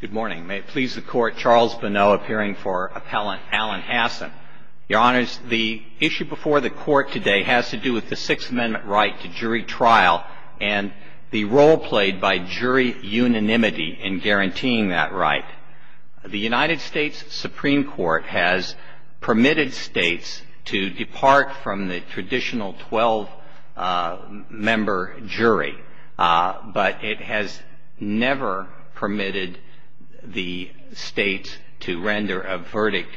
Good morning. May it please the Court, Charles Bonneau appearing for Appellant Alan Hassan. Your Honours, the issue before the Court today has to do with the Sixth Amendment right to jury trial and the role played by jury unanimity in guaranteeing that right. The United States Supreme Court has permitted states to depart from the traditional 12-member jury, but it has never permitted the states to render a verdict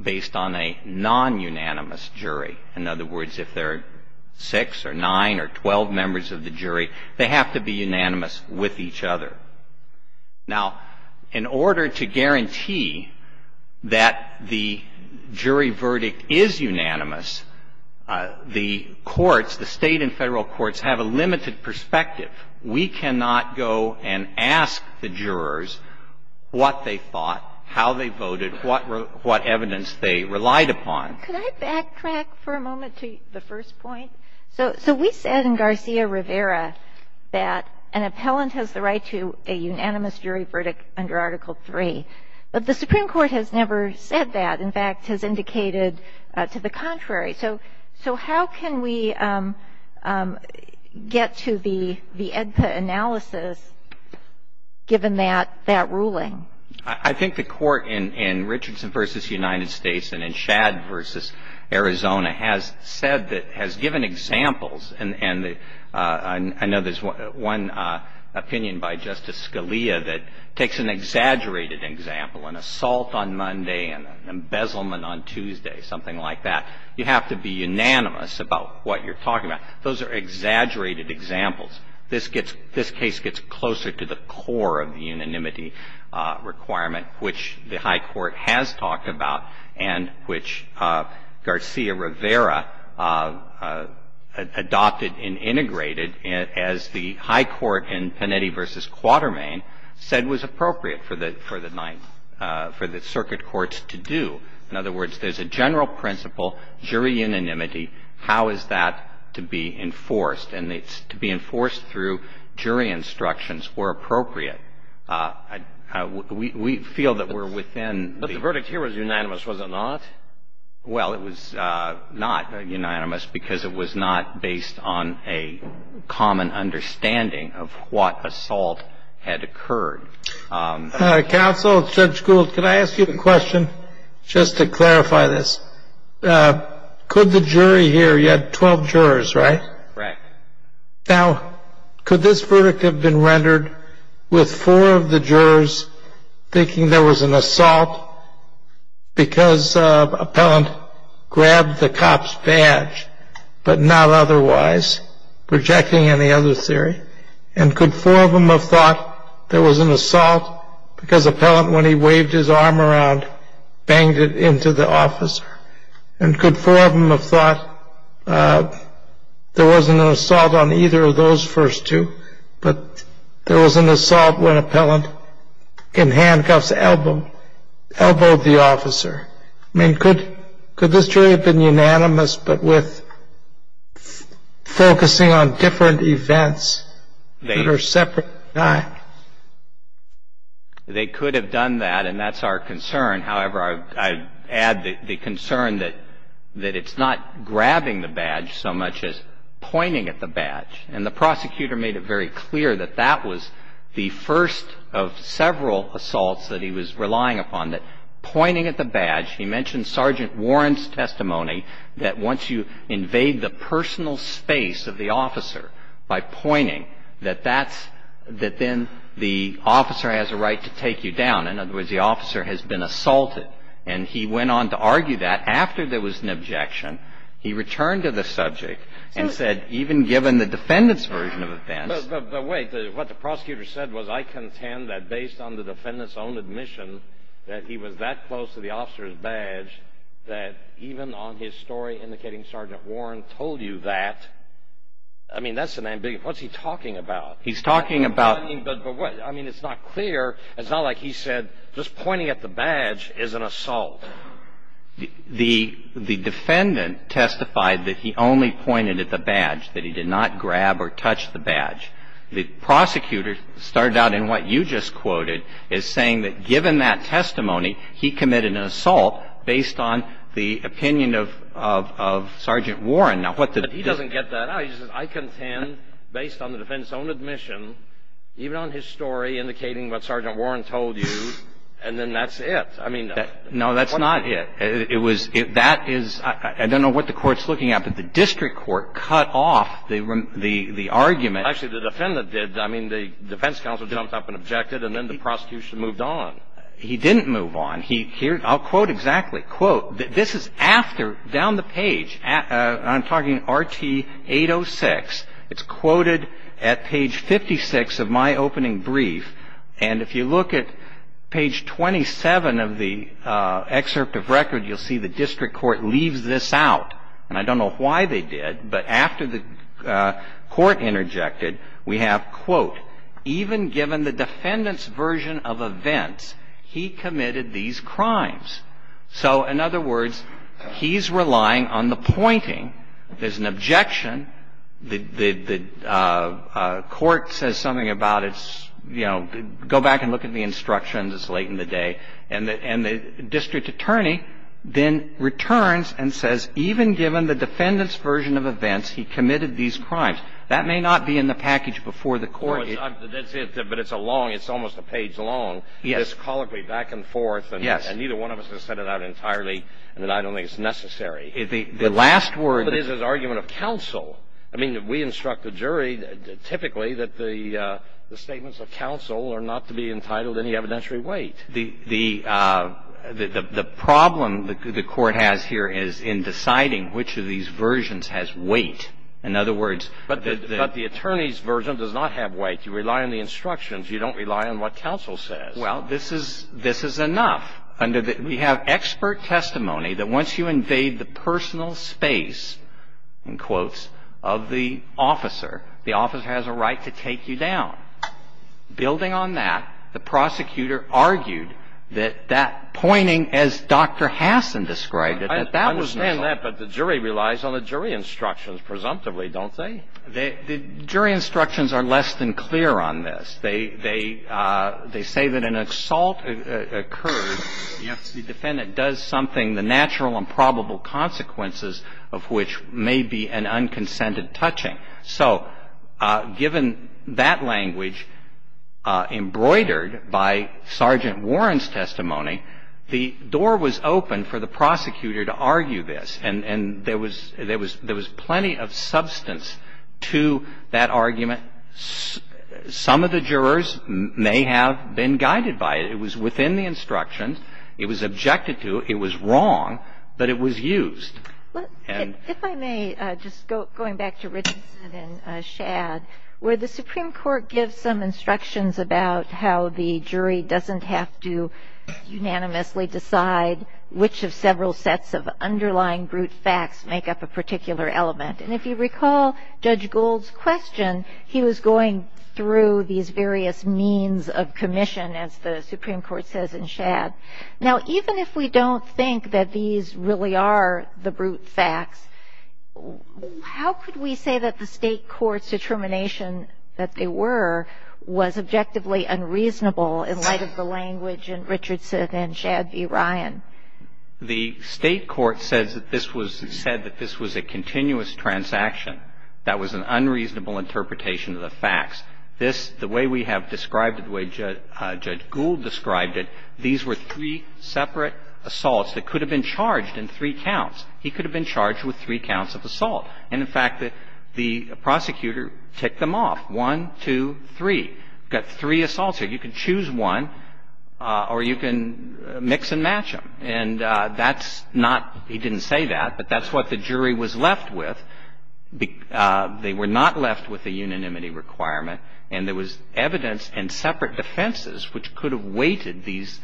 based on a non-unanimous jury. In other words, if there are 6 or 9 or 12 members of the jury, they have to be unanimous with each other. Now, in order to guarantee that the jury verdict is unanimous, the courts, the state and federal courts, have a limited perspective. We cannot go and ask the jurors what they thought, how they voted, what evidence they relied upon. Can I backtrack for a moment to the first point? So we said in Garcia-Rivera that an appellant has the right to a unanimous jury verdict under Article III, but the Supreme Court has never said that. In fact, has indicated to the contrary. So how can we get to the AEDPA analysis given that ruling? I think the Court in Richardson v. United States and in Shad v. Arizona has said that, has given examples, and I know there's one opinion by Justice Scalia that takes an exaggerated example, an assault on Monday, an embezzlement on Tuesday, something like that. You have to be unanimous about what you're talking about. Those are exaggerated examples. This case gets closer to the core of the unanimity requirement, which the high court has talked about and which Garcia-Rivera adopted and integrated as the high court in Panetti v. Quatermain said was appropriate for the Ninth, for the circuit courts to do. In other words, there's a general principle, jury unanimity. How is that to be enforced? And it's to be enforced through jury instructions where appropriate. Well, it was not unanimous because it was not based on a common understanding of what assault had occurred. Counsel, Judge Gould, could I ask you a question just to clarify this? Could the jury here, you had 12 jurors, right? Right. Now, could this verdict have been rendered with four of the jurors thinking there was an assault because an appellant grabbed the cop's badge, but not otherwise, projecting any other theory? And could four of them have thought there was an assault because appellant, when he waved his arm around, banged it into the officer? And could four of them have thought there was an assault on either of those first two, but there was an assault when appellant in handcuffs elbowed the officer? I mean, could this jury have been unanimous, but with focusing on different events that are separate? They could have done that, and that's our concern. However, I add the concern that it's not grabbing the badge so much as pointing at the badge. And the prosecutor made it very clear that that was the first of several assaults that he was relying upon, that pointing at the badge. He mentioned Sergeant Warren's testimony that once you invade the personal space of the officer by pointing, that that's, that then the officer has a right to take you down. In other words, the officer has been assaulted. And he went on to argue that after there was an objection. He returned to the subject and said, even given the defendant's version of events. But wait. What the prosecutor said was, I contend that based on the defendant's own admission that he was that close to the officer's badge that even on his story indicating Sergeant Warren told you that, I mean, that's an ambiguity. What's he talking about? He's talking about. But what, I mean, it's not clear. It's not like he said, just pointing at the badge is an assault. The defendant testified that he only pointed at the badge, that he did not grab or touch the badge. The prosecutor started out in what you just quoted as saying that given that testimony, he committed an assault based on the opinion of Sergeant Warren. Now, what the. He doesn't get that out. He just says, I contend based on the defendant's own admission, even on his story indicating what Sergeant Warren told you, and then that's it. I mean. No, that's not it. It was. That is. I don't know what the Court's looking at, but the district court cut off the argument. Actually, the defendant did. I mean, the defense counsel jumped up and objected, and then the prosecution moved on. He didn't move on. He. I'll quote exactly. I quote. This is after, down the page. I'm talking RT-806. It's quoted at page 56 of my opening brief, and if you look at page 27 of the excerpt of record, you'll see the district court leaves this out, and I don't know why they did, but after the court interjected, we have, quote, even given the defendant's version of events, he committed these crimes. So in other words, he's relying on the pointing. There's an objection. The court says something about it's, you know, go back and look at the instructions. It's late in the day. And the district attorney then returns and says, even given the defendant's version of events, he committed these crimes. That may not be in the package before the court. But it's a long. It's almost a page long. Yes. And I don't think it's necessary. The last word is an argument of counsel. I mean, we instruct the jury typically that the statements of counsel are not to be entitled to any evidentiary weight. The problem the court has here is in deciding which of these versions has weight. In other words, the attorney's version does not have weight. You rely on the instructions. You don't rely on what counsel says. Well, this is enough. We have expert testimony that once you invade the personal space, in quotes, of the officer, the officer has a right to take you down. Building on that, the prosecutor argued that that pointing, as Dr. Hassan described it, that that was necessary. I understand that. But the jury relies on the jury instructions, presumptively, don't they? The jury instructions are less than clear on this. They say that an assault occurs if the defendant does something, the natural and probable consequences of which may be an unconsented touching. So given that language embroidered by Sergeant Warren's testimony, the door was open for the prosecutor to argue this. And there was plenty of substance to that argument. Some of the jurors may have been guided by it. It was within the instructions. It was objected to. It was wrong. But it was used. And ‑‑ If I may, just going back to Richardson and Shad, where the Supreme Court gives some instructions about how the jury doesn't have to unanimously decide which of several sets of underlying brute facts make up a particular element. And if you recall Judge Gould's question, he was going through these various means of commission, as the Supreme Court says in Shad. Now, even if we don't think that these really are the brute facts, how could we say that the state court's determination that they were was objectively unreasonable in light of the language in Richardson and Shad v. Ryan? The state court says that this was ‑‑ said that this was a continuous transaction. That was an unreasonable interpretation of the facts. This, the way we have described it, the way Judge Gould described it, these were three separate assaults that could have been charged in three counts. He could have been charged with three counts of assault. And, in fact, the prosecutor ticked them off, one, two, three. We've got three assaults here. You can choose one, or you can mix and match them. And that's not ‑‑ he didn't say that, but that's what the jury was left with. They were not left with a unanimity requirement. And there was evidence in separate defenses which could have weighted these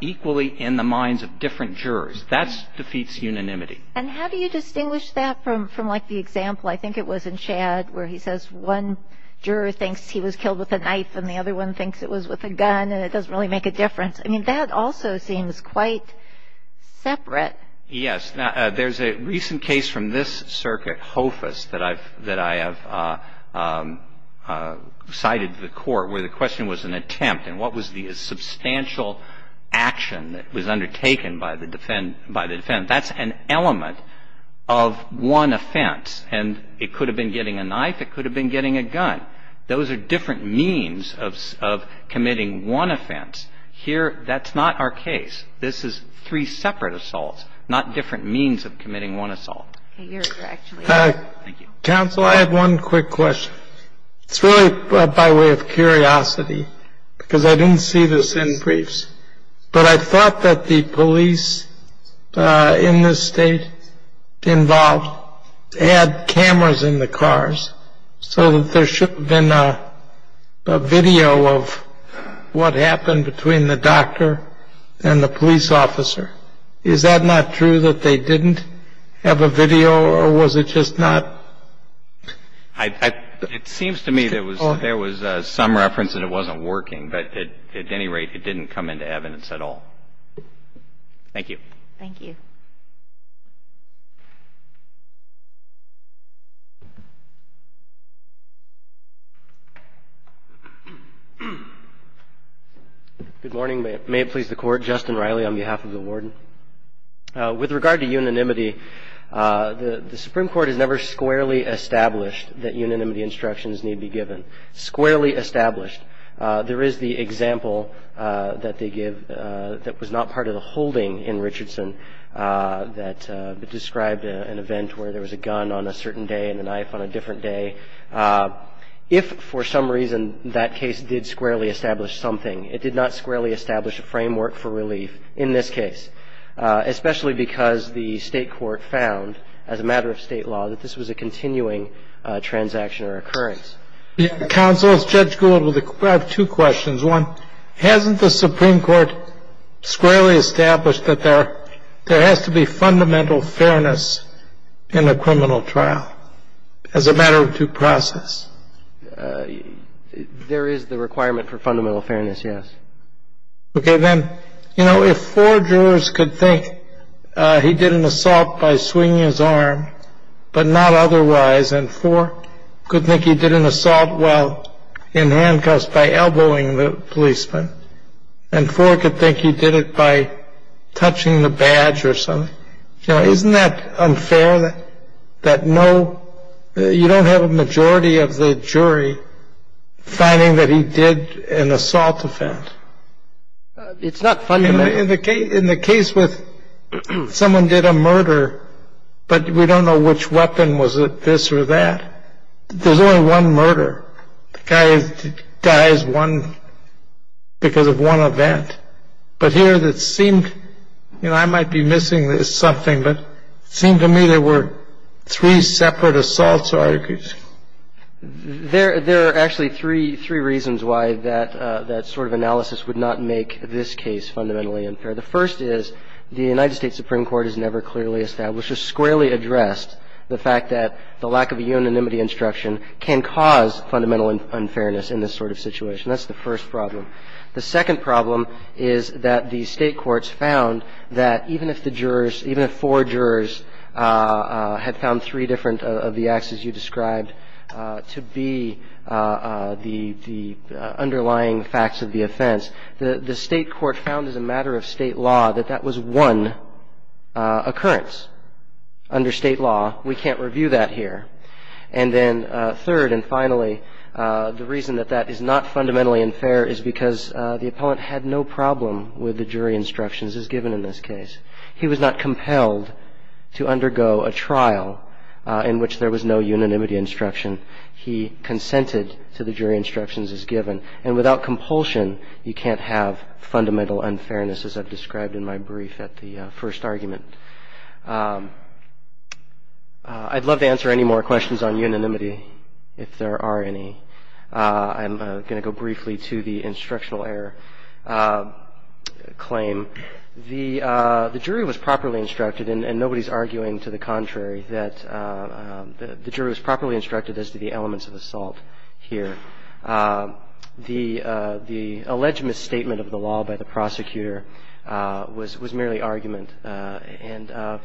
equally in the minds of different jurors. That defeats unanimity. And how do you distinguish that from, like, the example, I think it was in Shad, where he says one juror thinks he was killed with a knife and the other one thinks it was with a gun and it doesn't really make a difference. I mean, that also seems quite separate. Yes. Now, there's a recent case from this circuit, Hofus, that I have cited to the court where the question was an attempt. And what was the substantial action that was undertaken by the defendant? That's an element of one offense. And it could have been getting a knife. It could have been getting a gun. Those are different means of committing one offense. Here, that's not our case. This is three separate assaults, not different means of committing one assault. Okay. You're correct. Thank you. Counsel, I have one quick question. It's really by way of curiosity, because I didn't see this in briefs, but I thought that the police in this State involved had cameras in the cars so that there should have been a video of what happened between the doctor and the police officer. Is that not true, that they didn't have a video, or was it just not? It seems to me there was some reference that it wasn't working, but at any rate, it didn't come into evidence at all. Thank you. Thank you. Thank you. Good morning. May it please the Court. Justin Riley on behalf of the Warden. With regard to unanimity, the Supreme Court has never squarely established that unanimity instructions need be given, squarely established. There is the example that they give that was not part of the holding in Richardson that described an event where there was a gun on a certain day and a knife on a different day. If for some reason that case did squarely establish something, it did not squarely establish a framework for relief in this case, especially because the State court found, as a matter of State law, that this was a continuing transaction or occurrence. Counsel, Judge Gould, I have two questions. One, hasn't the Supreme Court squarely established that there has to be fundamental fairness in a criminal trial as a matter of due process? There is the requirement for fundamental fairness, yes. Okay. Then, you know, if four jurors could think he did an assault by swinging his arm but not otherwise, and four could think he did an assault while in handcuffs by elbowing the policeman, and four could think he did it by touching the badge or something, you know, isn't that unfair that no — you don't have a majority of the jury finding that he did an assault offense? It's not fundamental. In the case with — someone did a murder, but we don't know which weapon. Was it this or that? There's only one murder. The guy dies one — because of one event. But here, it seemed — you know, I might be missing something, but it seemed to me there were three separate assaults. that there is a fundamental unfairness in this sort of case. I don't think that's the case. There are actually three reasons why that sort of analysis would not make this case fundamentally unfair. The first is the United States Supreme Court has never clearly established the fact that the lack of a unanimity instruction can cause fundamental unfairness in this sort of situation. That's the first problem. The second problem is that the State courts found that even if the jurors — even if four jurors had found three different of the acts as you described to be the underlying facts of the offense, the State court found as a matter of State law that that was one occurrence under State law. We can't review that here. And then third and finally, the reason that that is not fundamentally unfair is because the appellant had no problem with the jury instructions as given in this case. He was not compelled to undergo a trial in which there was no unanimity instruction. He consented to the jury instructions as given. And without compulsion, you can't have fundamental unfairness as I've described in my brief at the first argument. I'd love to answer any more questions on unanimity if there are any. I'm going to go briefly to the instructional error claim. The jury was properly instructed, and nobody's arguing to the contrary, that the jury was properly instructed as to the elements of assault here. The alleged misstatement of the law by the prosecutor was merely argument. And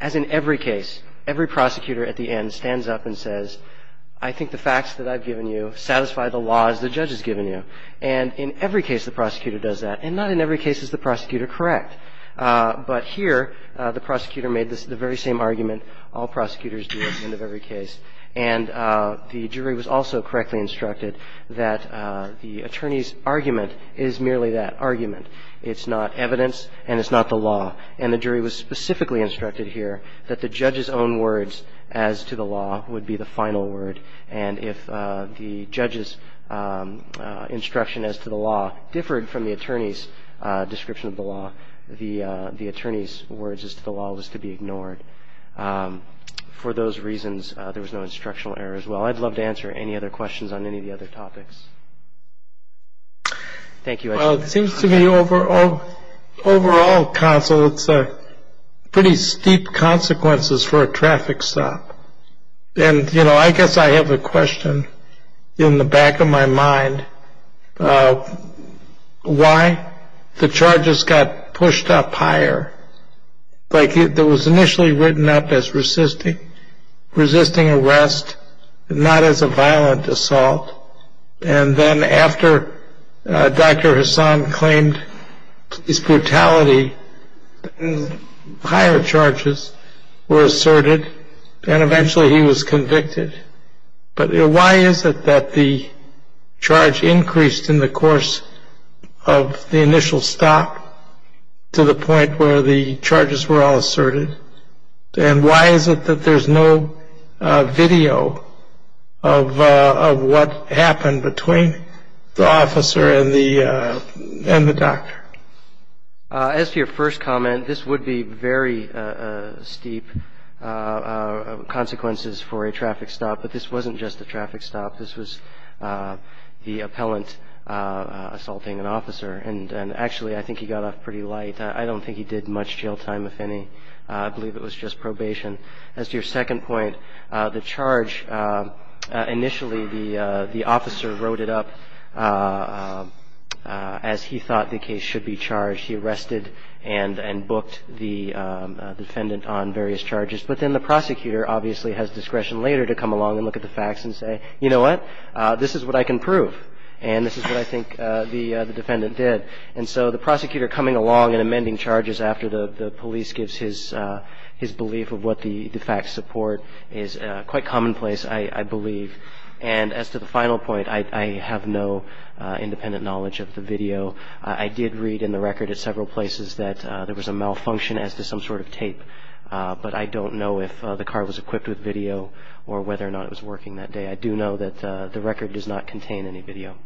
as in every case, every prosecutor at the end stands up and says, I think the facts that I've given you satisfy the laws the judge has given you. And in every case, the prosecutor does that. And not in every case is the prosecutor correct. But here, the prosecutor made the very same argument all prosecutors do at the end of every case. And the jury was also correctly instructed that the attorney's argument is merely that argument. It's not evidence, and it's not the law. And the jury was specifically instructed here that the judge's own words as to the law would be the final word. And if the judge's instruction as to the law differed from the attorney's description of the law, the attorney's words as to the law was to be ignored. For those reasons, there was no instructional error as well. I'd love to answer any other questions on any of the other topics. Thank you. Well, it seems to me overall, counsel, it's pretty steep consequences for a traffic stop. And, you know, I guess I have a question in the back of my mind. Why the charges got pushed up higher? Like it was initially written up as resisting arrest, not as a violent assault. And then after Dr. Hassan claimed his brutality, higher charges were asserted, and eventually he was convicted. But why is it that the charge increased in the course of the initial stop to the point where the charges were all asserted? And why is it that there's no video of what happened between the officer and the doctor? As to your first comment, this would be very steep consequences for a traffic stop. But this wasn't just a traffic stop. This was the appellant assaulting an officer. And actually, I think he got off pretty light. I don't think he did much jail time, if any. I believe it was just probation. As to your second point, the charge initially, the officer wrote it up as he thought the case should be charged. He arrested and booked the defendant on various charges. But then the prosecutor obviously has discretion later to come along and look at the facts and say, you know what? This is what I can prove. And this is what I think the defendant did. And so the prosecutor coming along and amending charges after the police gives his belief of what the facts support is quite commonplace, I believe. And as to the final point, I have no independent knowledge of the video. I did read in the record at several places that there was a malfunction as to some sort of tape. But I don't know if the car was equipped with video or whether or not it was working that day. I do know that the record does not contain any video.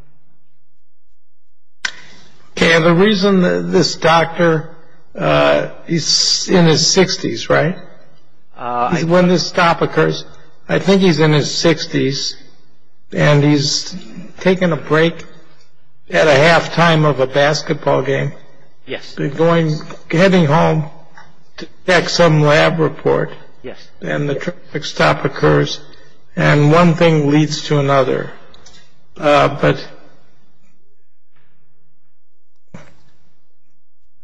Okay. And the reason this doctor, he's in his 60s, right? When this stop occurs, I think he's in his 60s and he's taking a break at a halftime of a basketball game. Yes. He's going, heading home to check some lab report. Yes. And the traffic stop occurs. And one thing leads to another. But.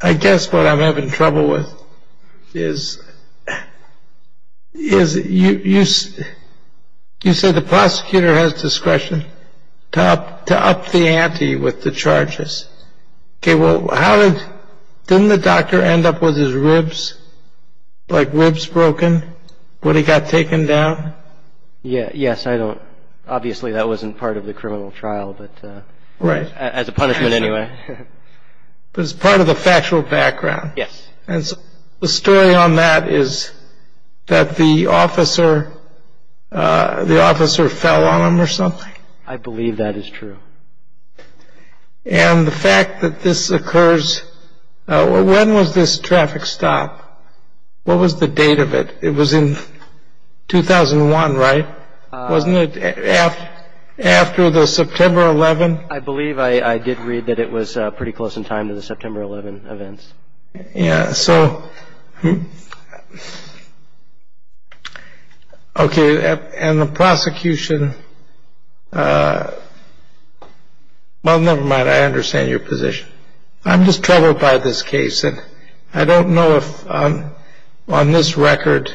I guess what I'm having trouble with is. Is it you? You said the prosecutor has discretion to up to up the ante with the charges. Well, how did the doctor end up with his ribs like ribs broken? Would he got taken down? Yeah. I don't. Obviously, that wasn't part of the criminal trial. But right. As a punishment anyway. But it's part of the factual background. Yes. And the story on that is that the officer, the officer fell on him or something. I believe that is true. And the fact that this occurs. When was this traffic stop? What was the date of it? It was in 2001, right? Wasn't it after the September 11th? I believe I did read that it was pretty close in time to the September 11th events. So. OK. And the prosecution. Well, never mind. I understand your position. I'm just troubled by this case. And I don't know if on this record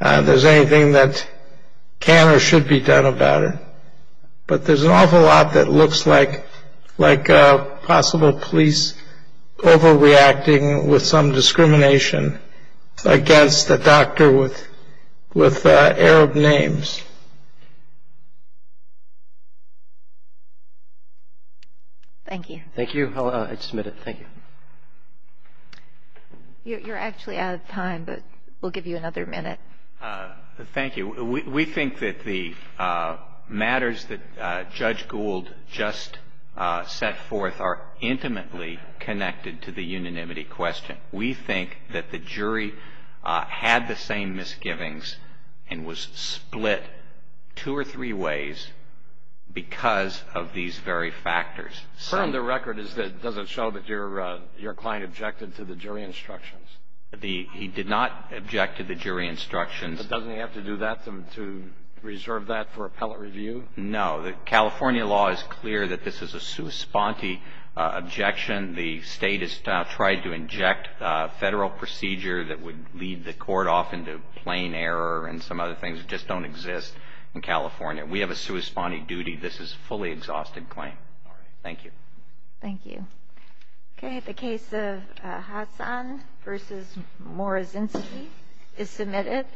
there's anything that can or should be done about it. But there's an awful lot that looks like like possible police overreacting with some discrimination against the doctor with with Arab names. Thank you. Thank you. Thank you. I submit it. Thank you. You're actually out of time, but we'll give you another minute. Thank you. We think that the matters that Judge Gould just set forth are intimately connected to the unanimity question. We think that the jury had the same misgivings and was split two or three ways because of these very factors. On the record, it doesn't show that your client objected to the jury instructions. He did not object to the jury instructions. But doesn't he have to do that to reserve that for appellate review? No. The California law is clear that this is a sua sponte objection. The state has tried to inject a federal procedure that would lead the court off into plain error and some other things that just don't exist in California. We have a sua sponte duty. This is a fully exhausted claim. Thank you. Thank you. Okay. The case of Hassan v. Morazinski is submitted.